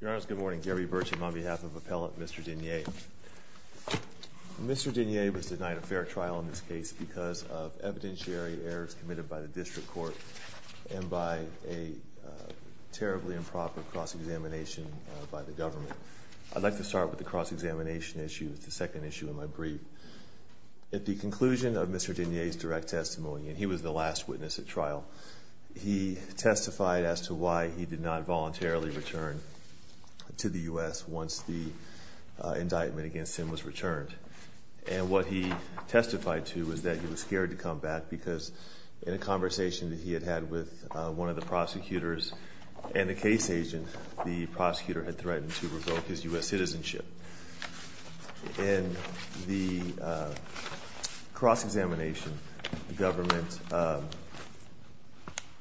Your Honors, good morning. Gary Burcham on behalf of Appellant Mr. De Nier. Mr. De Nier was denied a fair trial in this case because of evidentiary errors committed by the district court and by a terribly improper cross-examination by the government. I'd like to start with the cross-examination issue. It's the second issue in my brief. At the conclusion of Mr. De Nier's direct testimony, and he was the last witness at trial, he testified as to why he did not voluntarily return to the U.S. once the indictment against him was returned. And what he testified to was that he was scared to come back because in a conversation that he had had with one of the prosecutors and a case agent, the prosecutor had threatened to revoke his U.S. citizenship. In the cross-examination, the government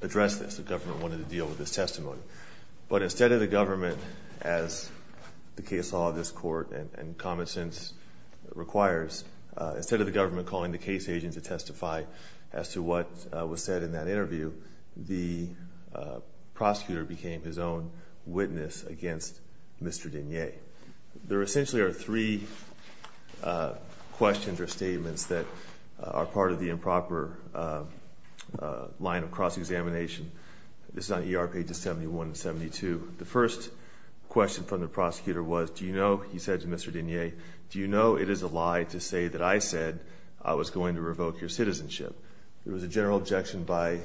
addressed this. The government wanted to deal with this testimony. But instead of the government, as the case law of this court and common sense requires, instead of the government calling the case agent to testify as to what was said in that interview, the prosecutor became his own witness against Mr. De Nier. There essentially are three questions or statements that are part of the improper line of cross-examination. This is on ER pages 71 and 72. The first question from the prosecutor was, do you know, he said to Mr. De Nier, do you know it is a lie to say that I said I was going to revoke your citizenship? There was a general objection by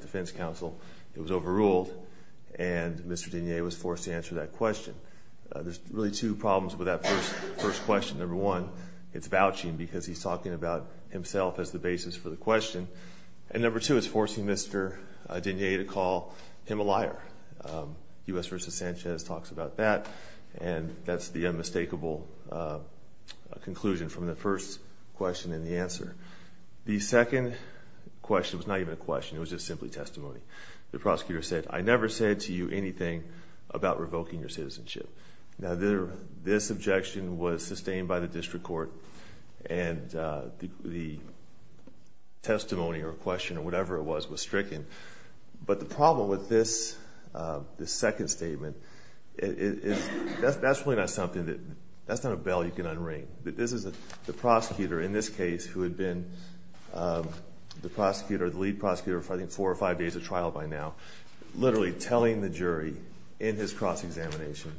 defense counsel. It was overruled. And Mr. De Nier was forced to answer that question. There's really two problems with that first question. Number one, it's vouching because he's talking about himself as the basis for the question. And number two, it's forcing Mr. De Nier to call him a liar. U.S. v. Sanchez talks about that. And that's the unmistakable conclusion from the first question and the answer. The second question was not even a question. It was just simply testimony. The prosecutor said, I never said to you anything about revoking your citizenship. Now this objection was sustained by the district court and the testimony or question or whatever it was was stricken. But the problem with this second statement, that's really not something that, that's not a bell you can unring. This is the prosecutor in this case who had been the prosecutor, the lead prosecutor for I think four or five days of trial by now, literally telling the jury in his cross-examination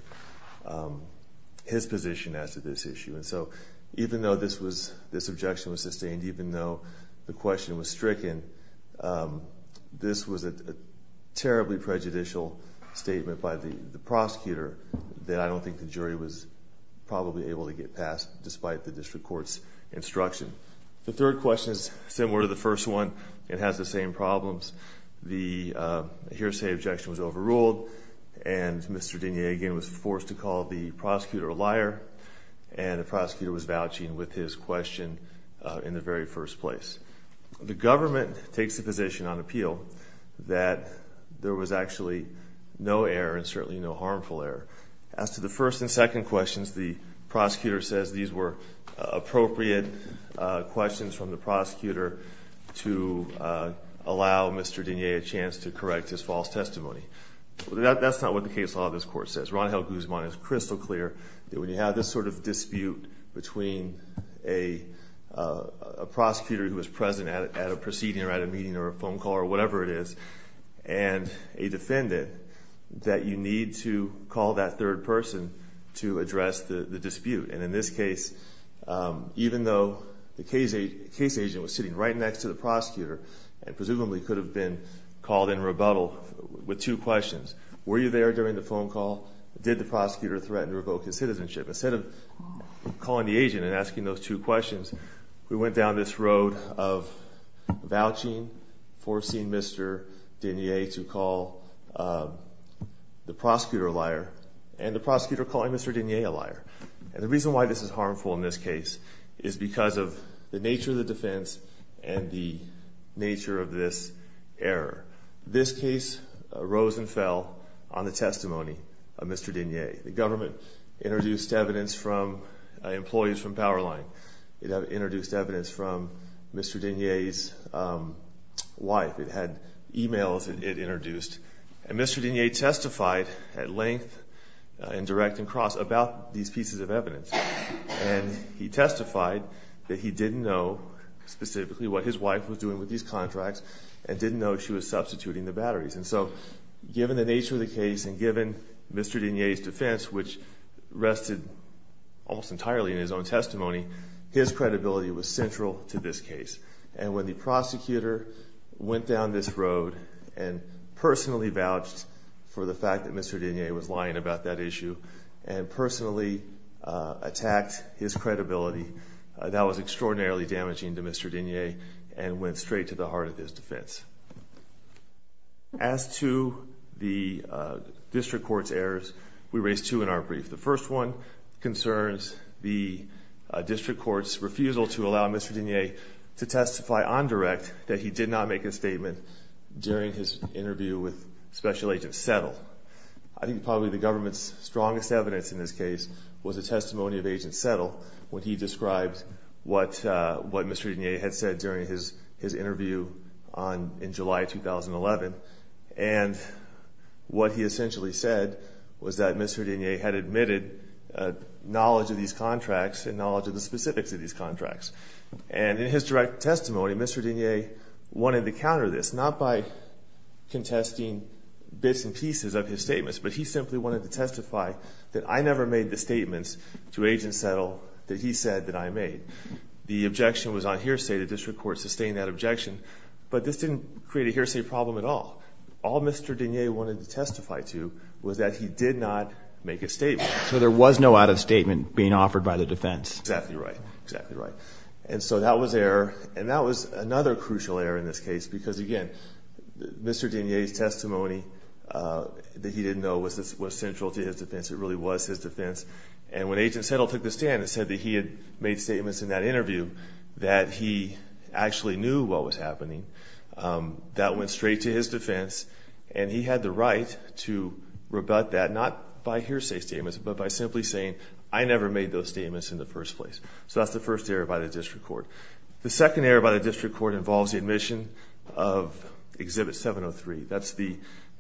his position as to this issue. And so even though this was, this objection was sustained, even though the question was stricken, this was a terribly prejudicial statement by the prosecutor that I don't think the jury was probably able to get past despite the district court's instruction. The third question is similar to the first one. It has the same problems. The hearsay objection was overruled and Mr. De Nier again was forced to call the prosecutor a liar and the prosecutor was vouching with his question in the very first place. The government takes the position on appeal that there was actually no error and certainly no harmful error. As to the first and second questions, the prosecutor says these were appropriate questions from the prosecutor to allow Mr. De Nier a chance to correct his false testimony. That's not what the case law of this court says. Ron Held Guzman is crystal clear that when you have this sort of dispute between a prosecutor who was present at a proceeding or at a meeting or a phone call or whatever it is, and a defendant, that you need to call that third person to address the dispute. In this case, even though the case agent was sitting right next to the prosecutor and presumably could have been called in rebuttal with two questions. Were you there during the phone call? Did the prosecutor threaten to revoke his citizenship? Instead of calling the agent and asking those two questions, we went down this road of vouching, forcing Mr. De Nier to call the prosecutor a liar and the prosecutor calling Mr. De Nier a liar. And the reason why this is harmful in this case is because of the nature of the defense and the nature of this error. This case rose and fell on the testimony of Mr. De Nier. The government introduced evidence from employees from Powerline. It introduced evidence from Mr. De Nier's wife. It had emails it introduced. And Mr. De Nier testified at length and direct and cross about these pieces of evidence. And he testified that he didn't know specifically what his wife was doing with these contracts and didn't know she was substituting the batteries. And so given the nature of the case and given Mr. De Nier's defense, which rested almost entirely in his own testimony, his credibility was central to this case. And when the prosecutor went down this road and personally vouched for the fact that Mr. De Nier was lying about that issue and personally attacked his credibility, that was extraordinarily damaging to Mr. De Nier and went straight to the heart of his defense. As to the district court's errors, we raised two in our brief. The first one concerns the district court's refusal to allow Mr. De Nier to testify on direct that he did not make a statement during his interview with Special Agent Settle. I think probably the government's strongest evidence in this case was the testimony of Agent Settle when he described what Mr. De Nier had said during his interview in July 2011. And what he essentially said was that Mr. De Nier had admitted knowledge of these contracts and knowledge of the specifics of these contracts. And in his direct testimony, Mr. De Nier wanted to counter this, not by contesting bits and pieces of his statements, but he simply wanted to testify that I never made the statements to Agent Settle that he said that I made. The objection was on hearsay. The district court sustained that objection. But this didn't create a hearsay problem at all. All Mr. De Nier wanted to testify to was that he did not make a statement. So there was no out-of-statement being offered by the defense? But by simply saying, I never made those statements in the first place. So that's the first error by the district court. And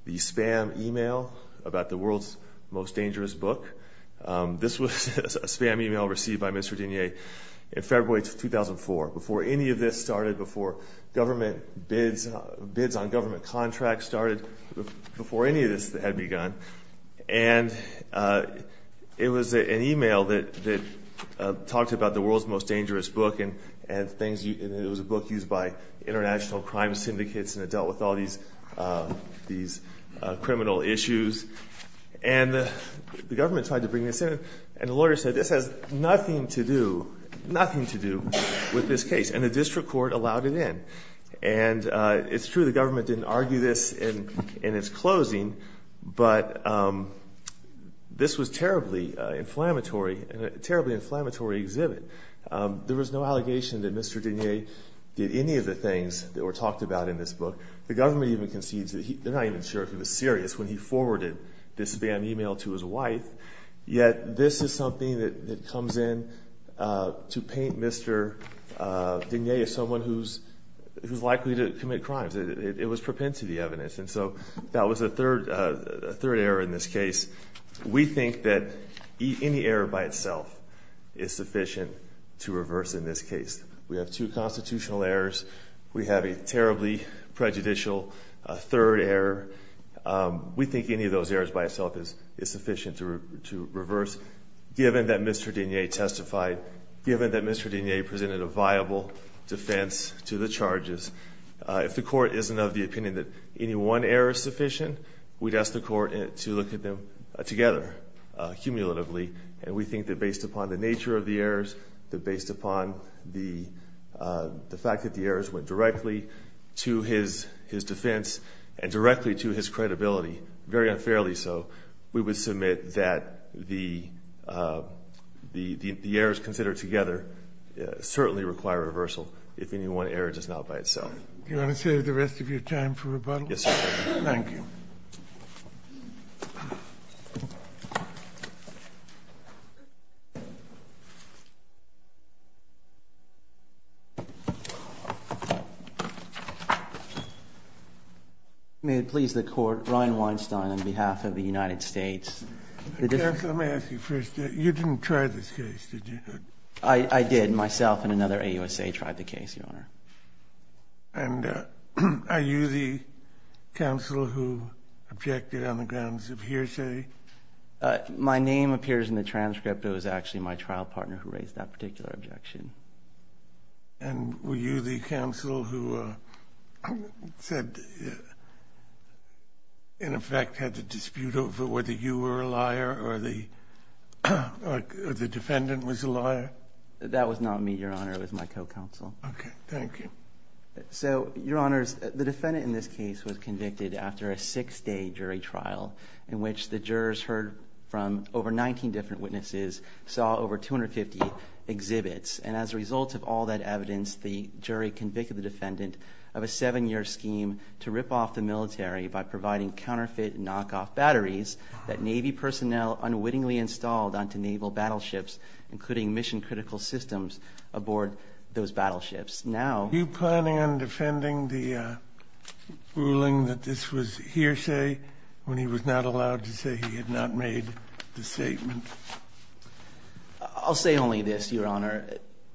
it was an email that talked about the world's most dangerous book, and it was a book used by international crime syndicates, and it dealt with all these criminal issues. And the government tried to bring this in, and the lawyer said this has nothing to do with this case. And the district court allowed it in. And it's true, the government didn't argue this in its closing, but this was a terribly inflammatory exhibit. There was no allegation that Mr. De Nier did any of the things that were talked about in this book. The government even concedes that they're not even sure if he was serious when he forwarded this spam email to his wife. Yet this is something that comes in to paint Mr. De Nier as someone who's likely to commit crimes. It was propensity evidence. And so that was a third error in this case. We think that any error by itself is sufficient to reverse in this case. We have two constitutional errors. We have a terribly prejudicial third error. We think any of those errors by itself is sufficient to reverse, given that Mr. De Nier testified, given that Mr. De Nier presented a viable defense to the charges. If the court isn't of the opinion that any one error is sufficient, we'd ask the court to look at them together, cumulatively. And we think that based upon the nature of the errors, that based upon the fact that the errors went directly to his defense and directly to his credibility, very unfairly so, we would submit that the errors considered together certainly require reversal if any one error does not by itself. Do you want to save the rest of your time for rebuttal? Yes, sir. Thank you. May it please the Court. Ryan Weinstein on behalf of the United States. Counsel, let me ask you first. You didn't try this case, did you? I did. Myself and another AUSA tried the case, Your Honor. And are you the counsel who objected on the grounds of hearsay? My name appears in the transcript. It was actually my trial partner who raised that particular objection. And were you the counsel who said, in effect, had to dispute over whether you were a liar or the defendant was a liar? That was not me, Your Honor. It was my co-counsel. Okay. Thank you. So, Your Honors, the defendant in this case was convicted after a six-day jury trial in which the jurors heard from over 19 different witnesses, saw over 250 exhibits. And as a result of all that evidence, the jury convicted the defendant of a seven-year scheme to rip off the military by providing counterfeit knockoff batteries that Navy personnel unwittingly installed onto Naval battleships, including mission-critical systems aboard those battleships. Are you planning on defending the ruling that this was hearsay when he was not allowed to say he had not made the statement? I'll say only this, Your Honor.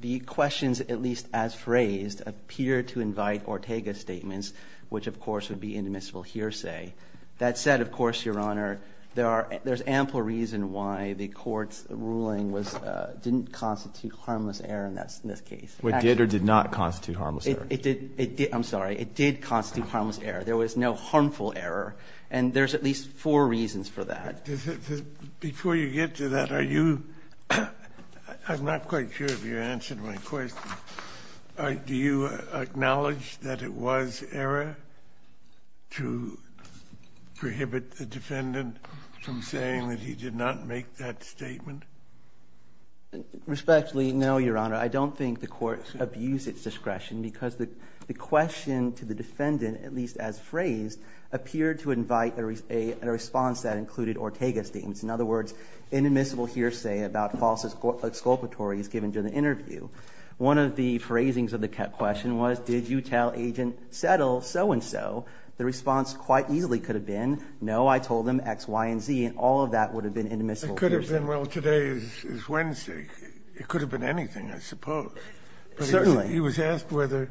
The questions, at least as phrased, appear to invite Ortega's statements, which, of course, would be indemnifiable hearsay. That said, of course, Your Honor, there are – there's ample reason why the Court's ruling was – didn't constitute harmless error in this case. Well, it did or did not constitute harmless error? It did – I'm sorry. It did constitute harmless error. There was no harmful error. And there's at least four reasons for that. Before you get to that, are you – I'm not quite sure if you answered my question. Do you acknowledge that it was error to prohibit the defendant from saying that he did not make that statement? Respectfully, no, Your Honor. I don't think the Court abused its discretion because the question to the defendant, at least as phrased, appeared to invite a response that included Ortega's statements. In other words, indemnifiable hearsay about false exculpatory is given during the interview. One of the phrasings of the question was, did you tell Agent Settle so-and-so? The response quite easily could have been, no, I told him X, Y, and Z, and all of that would have been indemnifiable hearsay. It could have been, well, today is Wednesday. It could have been anything, I suppose. Certainly. But he was asked whether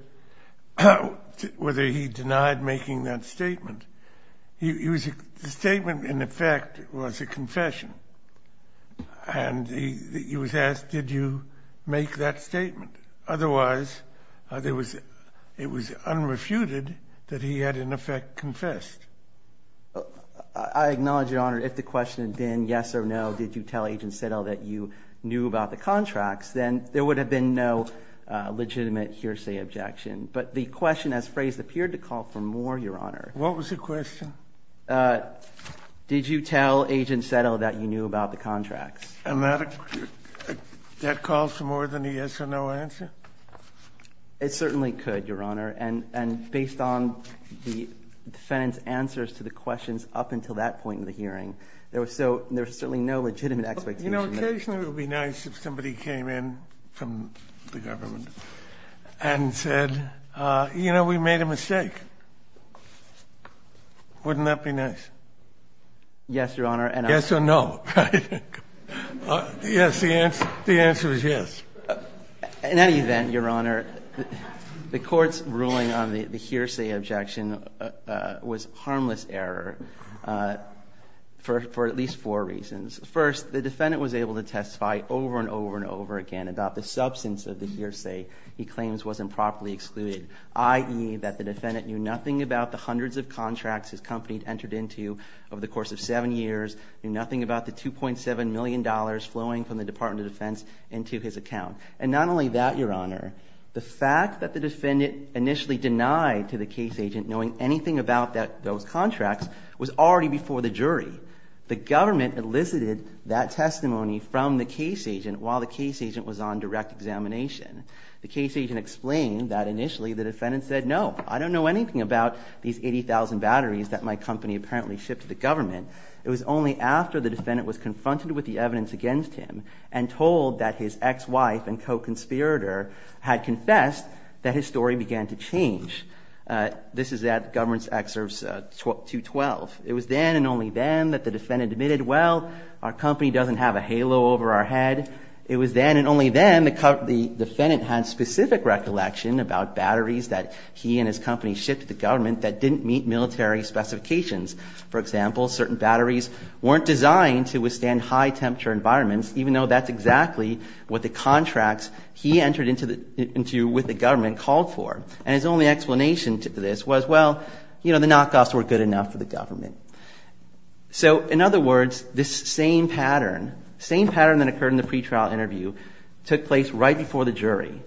he denied making that statement. The statement, in effect, was a confession. And he was asked, did you make that statement? Otherwise, it was unrefuted that he had, in effect, confessed. I acknowledge, Your Honor, if the question had been yes or no, did you tell Agent Settle that you knew about the contracts, then there would have been no legitimate hearsay objection. But the question, as phrased, appeared to call for more, Your Honor. What was the question? Did you tell Agent Settle that you knew about the contracts? And that calls for more than a yes-or-no answer? It certainly could, Your Honor. And based on the defendant's answers to the questions up until that point in the hearing, there was certainly no legitimate expectation. You know, occasionally it would be nice if somebody came in from the government and said, you know, we made a mistake. Wouldn't that be nice? Yes, Your Honor. Yes or no? Yes. The answer is yes. In any event, Your Honor, the Court's ruling on the hearsay objection was harmless error for at least four reasons. First, the defendant was able to testify over and over and over again about the substance of the hearsay he claims wasn't properly excluded, i.e., that the defendant knew nothing about the hundreds of contracts his company had entered into over the course of seven years, knew nothing about the $2.7 million flowing from the Department of Defense into his account. And not only that, Your Honor, the fact that the defendant initially denied to the case agent knowing anything about those contracts was already before the jury. The government elicited that testimony from the case agent while the case agent was on direct examination. The case agent explained that initially the defendant said, no, I don't know anything about these 80,000 batteries that my company apparently shipped to the government. It was only after the defendant was confronted with the evidence against him and told that his ex-wife and co-conspirator had confessed that his story began to change. This is at Government's Excerpt 212. It was then and only then that the defendant admitted, well, our company doesn't have a halo over our head. It was then and only then the defendant had specific recollection about batteries that he and his company shipped to the government that didn't meet military specifications. For example, certain batteries weren't designed to withstand high temperature environments, even though that's exactly what the contracts he entered into with the government called for. And his only explanation to this was, well, you know, the knockoffs weren't good enough for the government. So in other words, this same pattern, same pattern that occurred in the pretrial interview, took place right before the jury.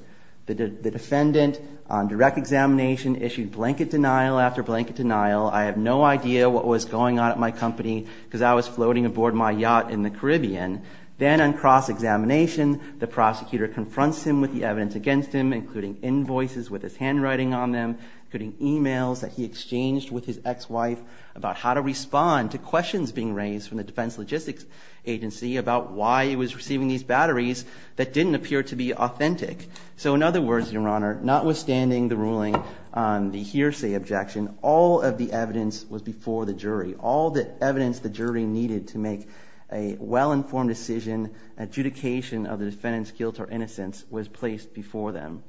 The defendant on direct examination issued blanket denial after blanket denial. I have no idea what was going on at my company because I was floating aboard my yacht in the Caribbean. Then on cross-examination, the prosecutor confronts him with the evidence against him, including invoices with his handwriting on them, including e-mails that he exchanged with his ex-wife about how to respond to questions being raised from the Defense Logistics Agency about why he was receiving these batteries that didn't appear to be authentic. So in other words, Your Honor, notwithstanding the ruling on the hearsay objection, all of the evidence was before the jury. All the evidence the jury needed to make a well-informed decision, adjudication of the defendant's guilt or innocence, was placed before them.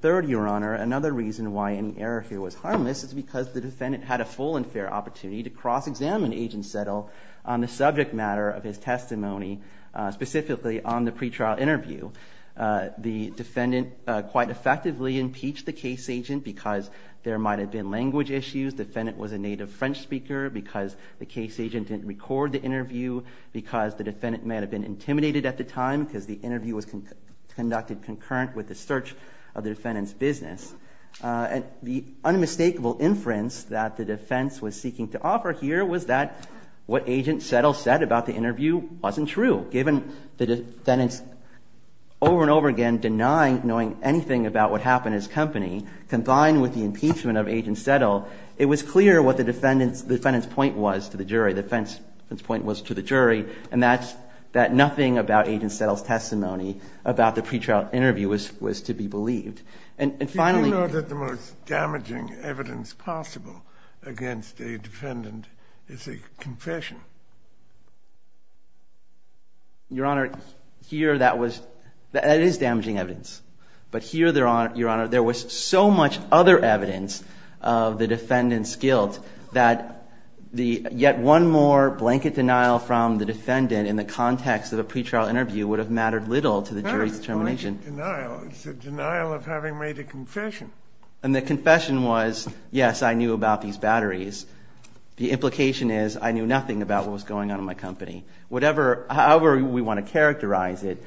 Third, Your Honor, another reason why any error here was harmless is because the defendant had a full and fair opportunity to cross-examine Agent Settle on the subject matter of his testimony, specifically on the pretrial interview. The defendant quite effectively impeached the case agent because there might have been language issues. The defendant was a native French speaker because the case agent didn't record the interview, because the defendant may have been intimidated at the time because the interview was conducted concurrent with the search of the defendant's business. And the unmistakable inference that the defense was seeking to offer here was that what Agent Settle said about the interview wasn't true. Given the defendant's over and over again denying knowing anything about what happened at his company, combined with the impeachment of Agent Settle, it was clear what the defendant's point was to the jury. The defendant's point was to the jury, and that's that nothing about Agent Settle's testimony about the pretrial interview was to be believed. And finally — Do you know that the most damaging evidence possible against a defendant is a confession? Your Honor, here that was — that is damaging evidence. But here, Your Honor, there was so much other evidence of the defendant's guilt that the — yet one more blanket denial from the defendant in the context of a pretrial interview would have mattered little to the jury's determination. It's a denial. It's a denial of having made a confession. And the confession was, yes, I knew about these batteries. The implication is I knew nothing about what was going on in my company. However we want to characterize it,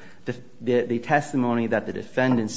the testimony that the defendant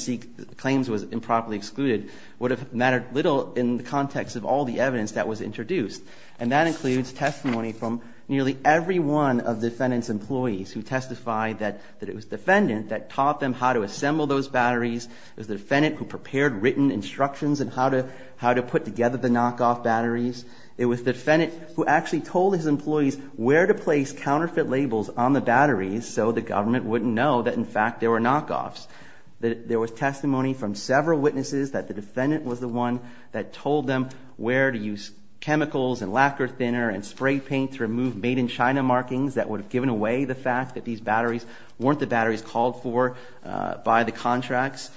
claims was improperly excluded would have mattered little in the context of all the evidence that was introduced. And that includes testimony from nearly every one of the defendant's employees who testified that it was the defendant that taught them how to assemble those batteries. It was the defendant who prepared written instructions on how to put together the knockoff batteries. It was the defendant who actually told his employees where to place counterfeit labels on the batteries so the government wouldn't know that, in fact, there were knockoffs. There was testimony from several witnesses that the defendant was the one that told them where to use chemicals and lacquer thinner and spray paint to remove made-in-China markings that would have given away the fact that these batteries weren't the batteries called for by the contracts.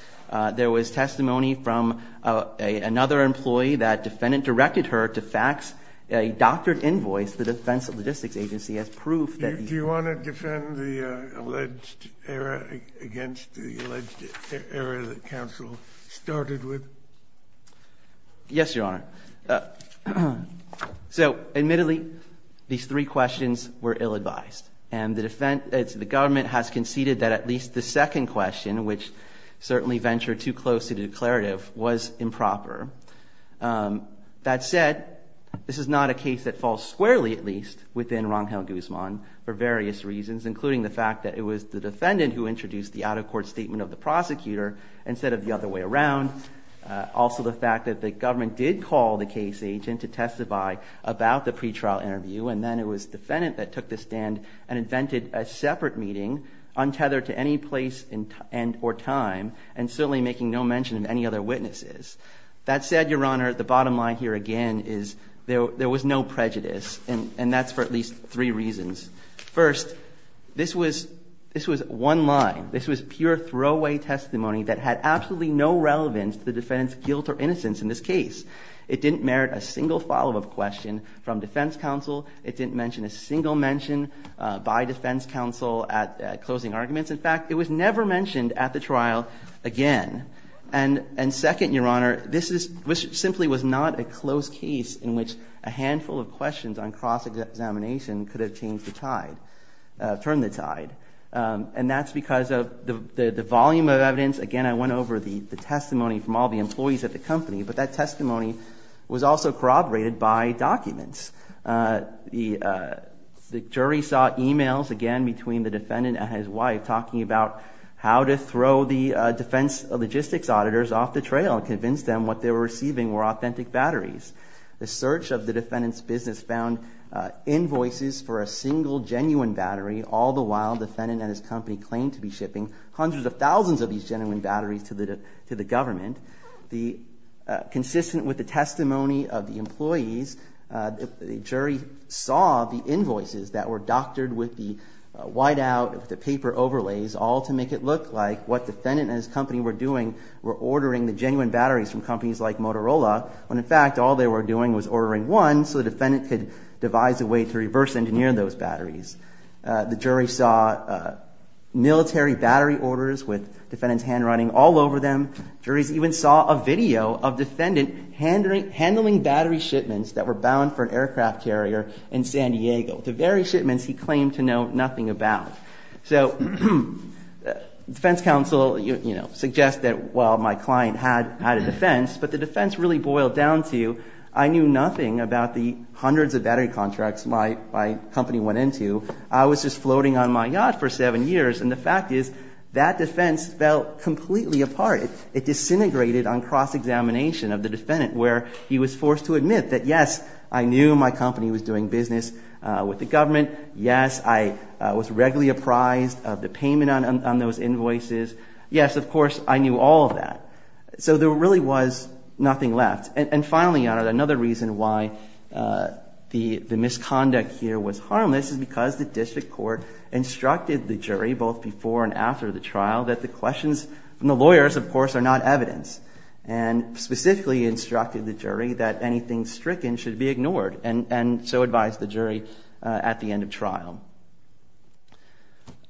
There was testimony from another employee that the defendant directed her to fax a doctored invoice to the Defense Logistics Agency as proof that he... Do you want to defend the alleged error against the alleged error that counsel started with? Yes, Your Honor. So, admittedly, these three questions were ill-advised. And the government has conceded that at least the second question, which certainly ventured too close to the declarative, was improper. That said, this is not a case that falls squarely, at least, within Rongel Guzman for various reasons, including the fact that it was the defendant who introduced the out-of-court statement of the prosecutor instead of the other way around. Also, the fact that the government did call the case agent to testify about the pretrial interview, and then it was the defendant that took the stand and invented a separate meeting, untethered to any place or time, and certainly making no mention of any other witnesses. That said, Your Honor, the bottom line here, again, is there was no prejudice, and that's for at least three reasons. First, this was one line. This was pure throwaway testimony that had absolutely no relevance to the defendant's guilt or innocence in this case. It didn't merit a single follow-up question from defense counsel. It didn't mention a single mention by defense counsel at closing arguments. In fact, it was never mentioned at the trial again. And second, Your Honor, this simply was not a close case in which a handful of questions on cross-examination could have turned the tide. And that's because of the volume of evidence. Again, I went over the testimony from all the employees at the company, but that testimony was also corroborated by documents. The jury saw e-mails, again, between the defendant and his wife talking about how to throw the defense logistics auditors off the trail and convince them what they were receiving were authentic batteries. The search of the defendant's business found invoices for a single genuine battery all the while the defendant and his company claimed to be shipping hundreds of thousands of these genuine batteries to the government. Consistent with the testimony of the employees, the jury saw the invoices that were doctored with the whiteout, the paper overlays, all to make it look like what the defendant and his company were doing were ordering the genuine batteries from companies like Motorola when, in fact, all they were doing was ordering one The jury saw military battery orders with defendants' handwriting all over them. Juries even saw a video of defendants handling battery shipments that were bound for an aircraft carrier in San Diego, the very shipments he claimed to know nothing about. So the defense counsel suggested, well, my client had a defense, but the defense really boiled down to, I knew nothing about the hundreds of battery contracts my company went into. I was just floating on my yacht for seven years. And the fact is that defense fell completely apart. It disintegrated on cross-examination of the defendant, where he was forced to admit that, yes, I knew my company was doing business with the government. Yes, I was regularly apprised of the payment on those invoices. Yes, of course, I knew all of that. So there really was nothing left. And finally, Your Honor, another reason why the misconduct here was harmless is because the district court instructed the jury both before and after the trial that the questions from the lawyers, of course, are not evidence, and specifically instructed the jury that anything stricken should be ignored, and so advised the jury at the end of trial.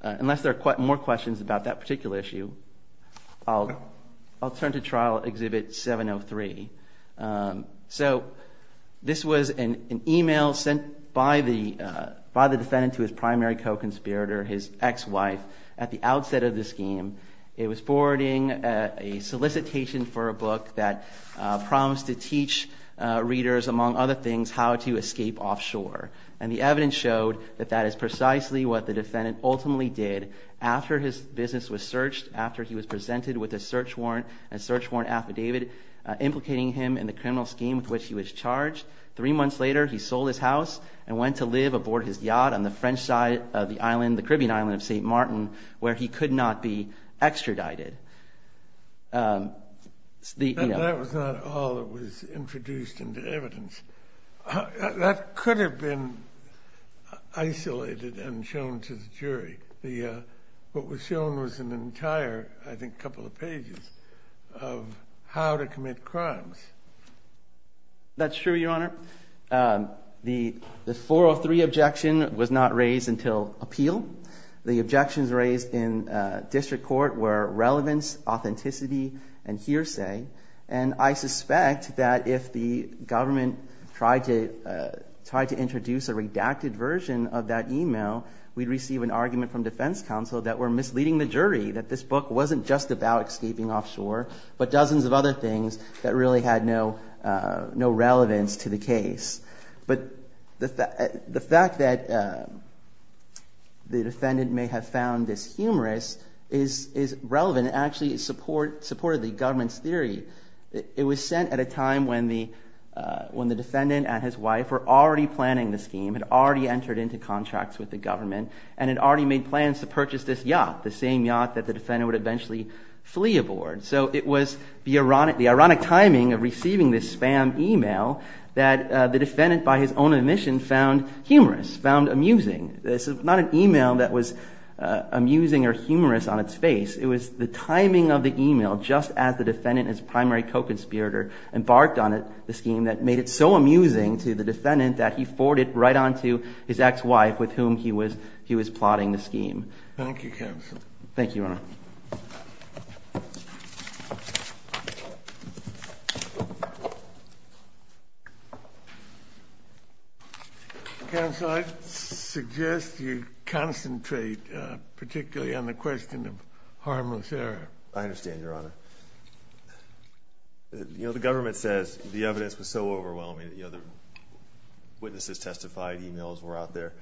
Unless there are more questions about that particular issue, I'll turn to Trial Exhibit 703. So this was an email sent by the defendant to his primary co-conspirator, his ex-wife, at the outset of the scheme. It was forwarding a solicitation for a book that promised to teach readers, among other things, how to escape offshore. And the evidence showed that that is precisely what the defendant ultimately did after his business was searched, after he was presented with a search warrant affidavit implicating him in the criminal scheme with which he was charged. Three months later, he sold his house and went to live aboard his yacht on the French side of the Caribbean island of St. Martin, where he could not be extradited. That was not all that was introduced into evidence. That could have been isolated and shown to the jury. What was shown was an entire, I think, couple of pages of how to commit crimes. That's true, Your Honor. The 403 objection was not raised until appeal. The objections raised in district court were relevance, authenticity, and hearsay. And I suspect that if the government tried to introduce a redacted version of that email, we'd receive an argument from defense counsel that we're misleading the jury, that this book wasn't just about escaping offshore, but dozens of other things that really had no relevance to the case. But the fact that the defendant may have found this humorous is relevant. It actually supported the government's theory. It was sent at a time when the defendant and his wife were already planning the scheme, had already entered into contracts with the government, and had already made plans to purchase this yacht, the same yacht that the defendant would eventually flee aboard. So it was the ironic timing of receiving this spam email that the defendant, by his own admission, found humorous, found amusing. This is not an email that was amusing or humorous on its face. It was the timing of the email just as the defendant and his primary co-conspirator embarked on the scheme that made it so amusing to the defendant that he forwarded it right on to his ex-wife with whom he was plotting the scheme. Thank you, counsel. Thank you, Your Honor. Counsel, I suggest you concentrate particularly on the question of harmless error. I understand, Your Honor. You know, the government says the evidence was so overwhelming that the other witnesses testified, emails were out there.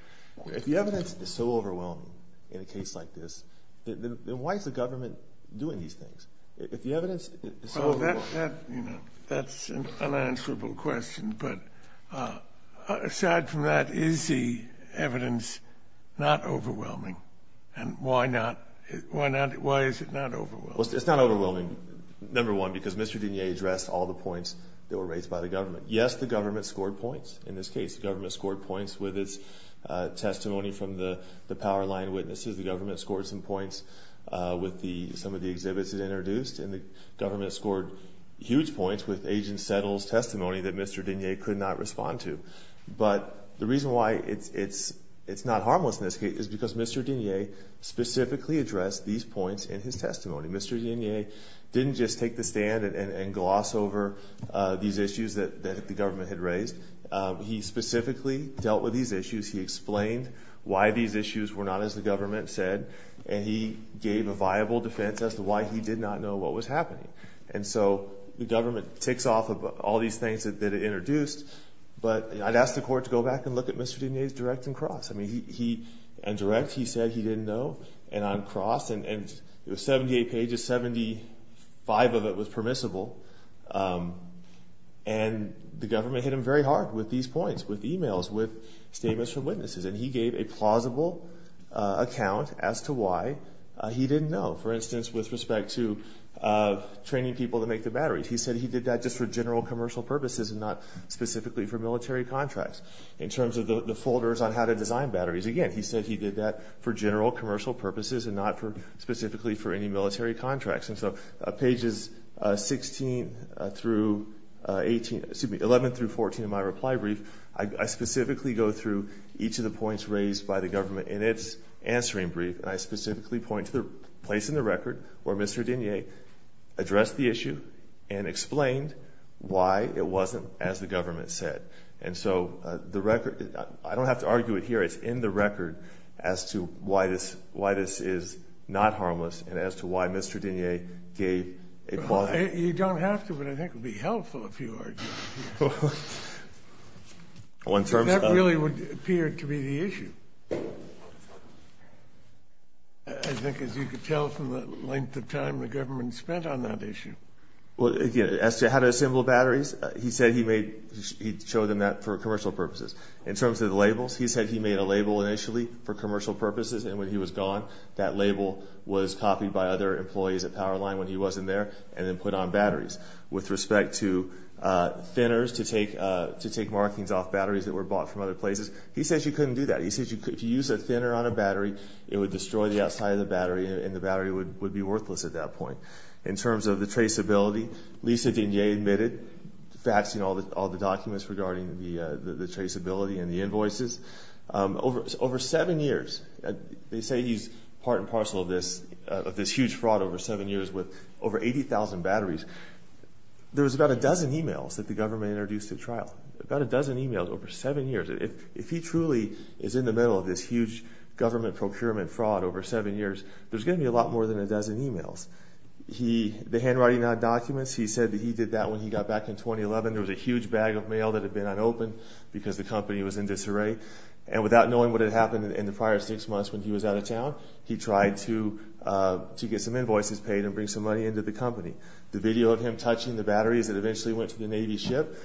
If the evidence is so overwhelming in a case like this, then why is the government doing these things? If the evidence is so overwhelming. That's an unanswerable question. But aside from that, is the evidence not overwhelming? And why is it not overwhelming? Well, it's not overwhelming, number one, because Mr. Dinier addressed all the points that were raised by the government. Yes, the government scored points. In this case, the government scored points with its testimony from the power line witnesses. The government scored some points with some of the exhibits it introduced. And the government scored huge points with Agent Settle's testimony that Mr. Dinier could not respond to. But the reason why it's not harmless in this case is because Mr. Dinier specifically addressed these points in his testimony. Mr. Dinier didn't just take the stand and gloss over these issues that the government had raised. He specifically dealt with these issues. He explained why these issues were not, as the government said. And he gave a viable defense as to why he did not know what was happening. And so the government ticks off all these things that it introduced. But I'd ask the court to go back and look at Mr. Dinier's direct and cross. In direct, he said he didn't know. And on cross, 78 pages, 75 of it was permissible. And the government hit him very hard with these points, with emails, with statements from witnesses. And he gave a plausible account as to why he didn't know, for instance, with respect to training people to make the batteries. He said he did that just for general commercial purposes and not specifically for military contracts. In terms of the folders on how to design batteries, again, he said he did that for general commercial purposes and not specifically for any military contracts. And so pages 11 through 14 of my reply brief, I specifically go through each of the points raised by the government in its answering brief, and I specifically point to the place in the record where Mr. Dinier addressed the issue and explained why it wasn't, as the government said. And so the record, I don't have to argue it here, it's in the record as to why this is not harmless and as to why Mr. Dinier gave a plausible account. You don't have to, but I think it would be helpful if you argued. That really would appear to be the issue, I think, as you could tell from the length of time the government spent on that issue. Well, again, as to how to assemble batteries, he said he showed them that for commercial purposes. In terms of the labels, he said he made a label initially for commercial purposes, and when he was gone, that label was copied by other employees at Powerline when he wasn't there and then put on batteries. With respect to thinners to take markings off batteries that were bought from other places, he says you couldn't do that. He says if you use a thinner on a battery, it would destroy the outside of the battery, and the battery would be worthless at that point. In terms of the traceability, Lisa Dinier admitted faxing all the documents regarding the traceability and the invoices. Over seven years, they say he's part and parcel of this huge fraud over seven years with over 80,000 batteries. There was about a dozen emails that the government introduced at trial, about a dozen emails over seven years. If he truly is in the middle of this huge government procurement fraud over seven years, there's going to be a lot more than a dozen emails. The handwriting on documents, he said that he did that when he got back in 2011. There was a huge bag of mail that had been unopened because the company was in disarray, and without knowing what had happened in the prior six months when he was out of town, he tried to get some invoices paid and bring some money into the company. The video of him touching the batteries that eventually went to the Navy ship,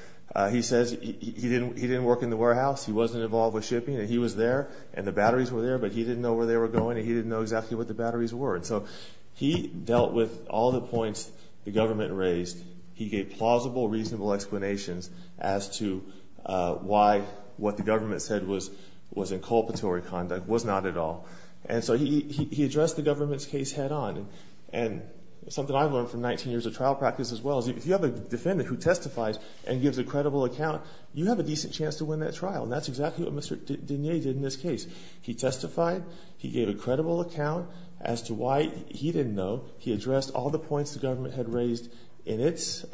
he says he didn't work in the warehouse. He wasn't involved with shipping, and he was there, and the batteries were there, but he didn't know where they were going, and he didn't know exactly what the batteries were. And so he dealt with all the points the government raised. He gave plausible, reasonable explanations as to why what the government said was inculpatory conduct, was not at all. And so he addressed the government's case head on, and something I've learned from 19 years of trial practice as well is if you have a defendant who testifies and gives a credible account, you have a decent chance to win that trial, and that's exactly what Mr. Denier did in this case. He testified. He gave a credible account as to why he didn't know. He addressed all the points the government had raised in its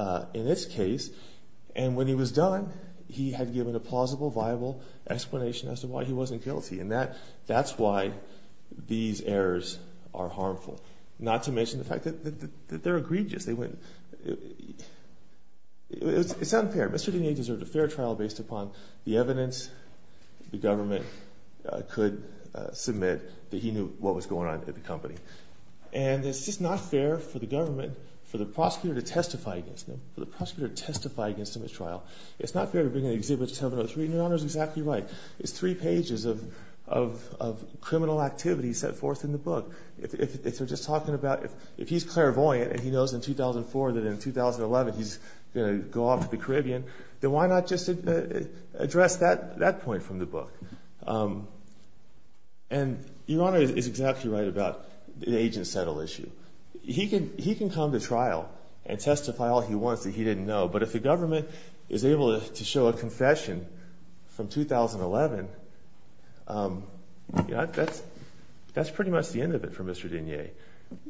case, and when he was done, he had given a plausible, viable explanation as to why he wasn't guilty, and that's why these errors are harmful, not to mention the fact that they're egregious. It's unfair. Mr. Denier deserved a fair trial based upon the evidence the government could submit that he knew what was going on at the company, and it's just not fair for the government, for the prosecutor to testify against him, for the prosecutor to testify against him at trial. It's not fair to bring an exhibit to Terminal 3, and Your Honor is exactly right. It's three pages of criminal activity set forth in the book. If they're just talking about, if he's clairvoyant and he knows in 2004 that in 2011 he's going to go off to the Caribbean, then why not just address that point from the book? And Your Honor is exactly right about the agent settle issue. He can come to trial and testify all he wants that he didn't know, but if the government is able to show a confession from 2011, that's pretty much the end of it for Mr. Denier.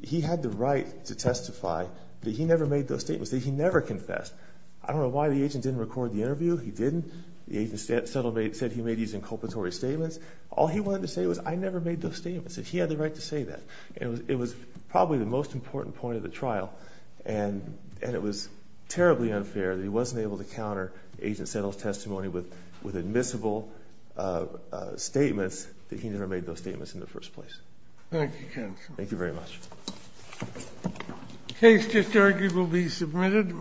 He had the right to testify, but he never made those statements. He never confessed. I don't know why the agent didn't record the interview. He didn't. The agent said he made these inculpatory statements. All he wanted to say was, I never made those statements, and he had the right to say that. It was probably the most important point of the trial, and it was terribly unfair that he wasn't able to counter the agent settle's testimony with admissible statements that he never made those statements in the first place. Thank you, counsel. Thank you very much. The case discharge will be submitted.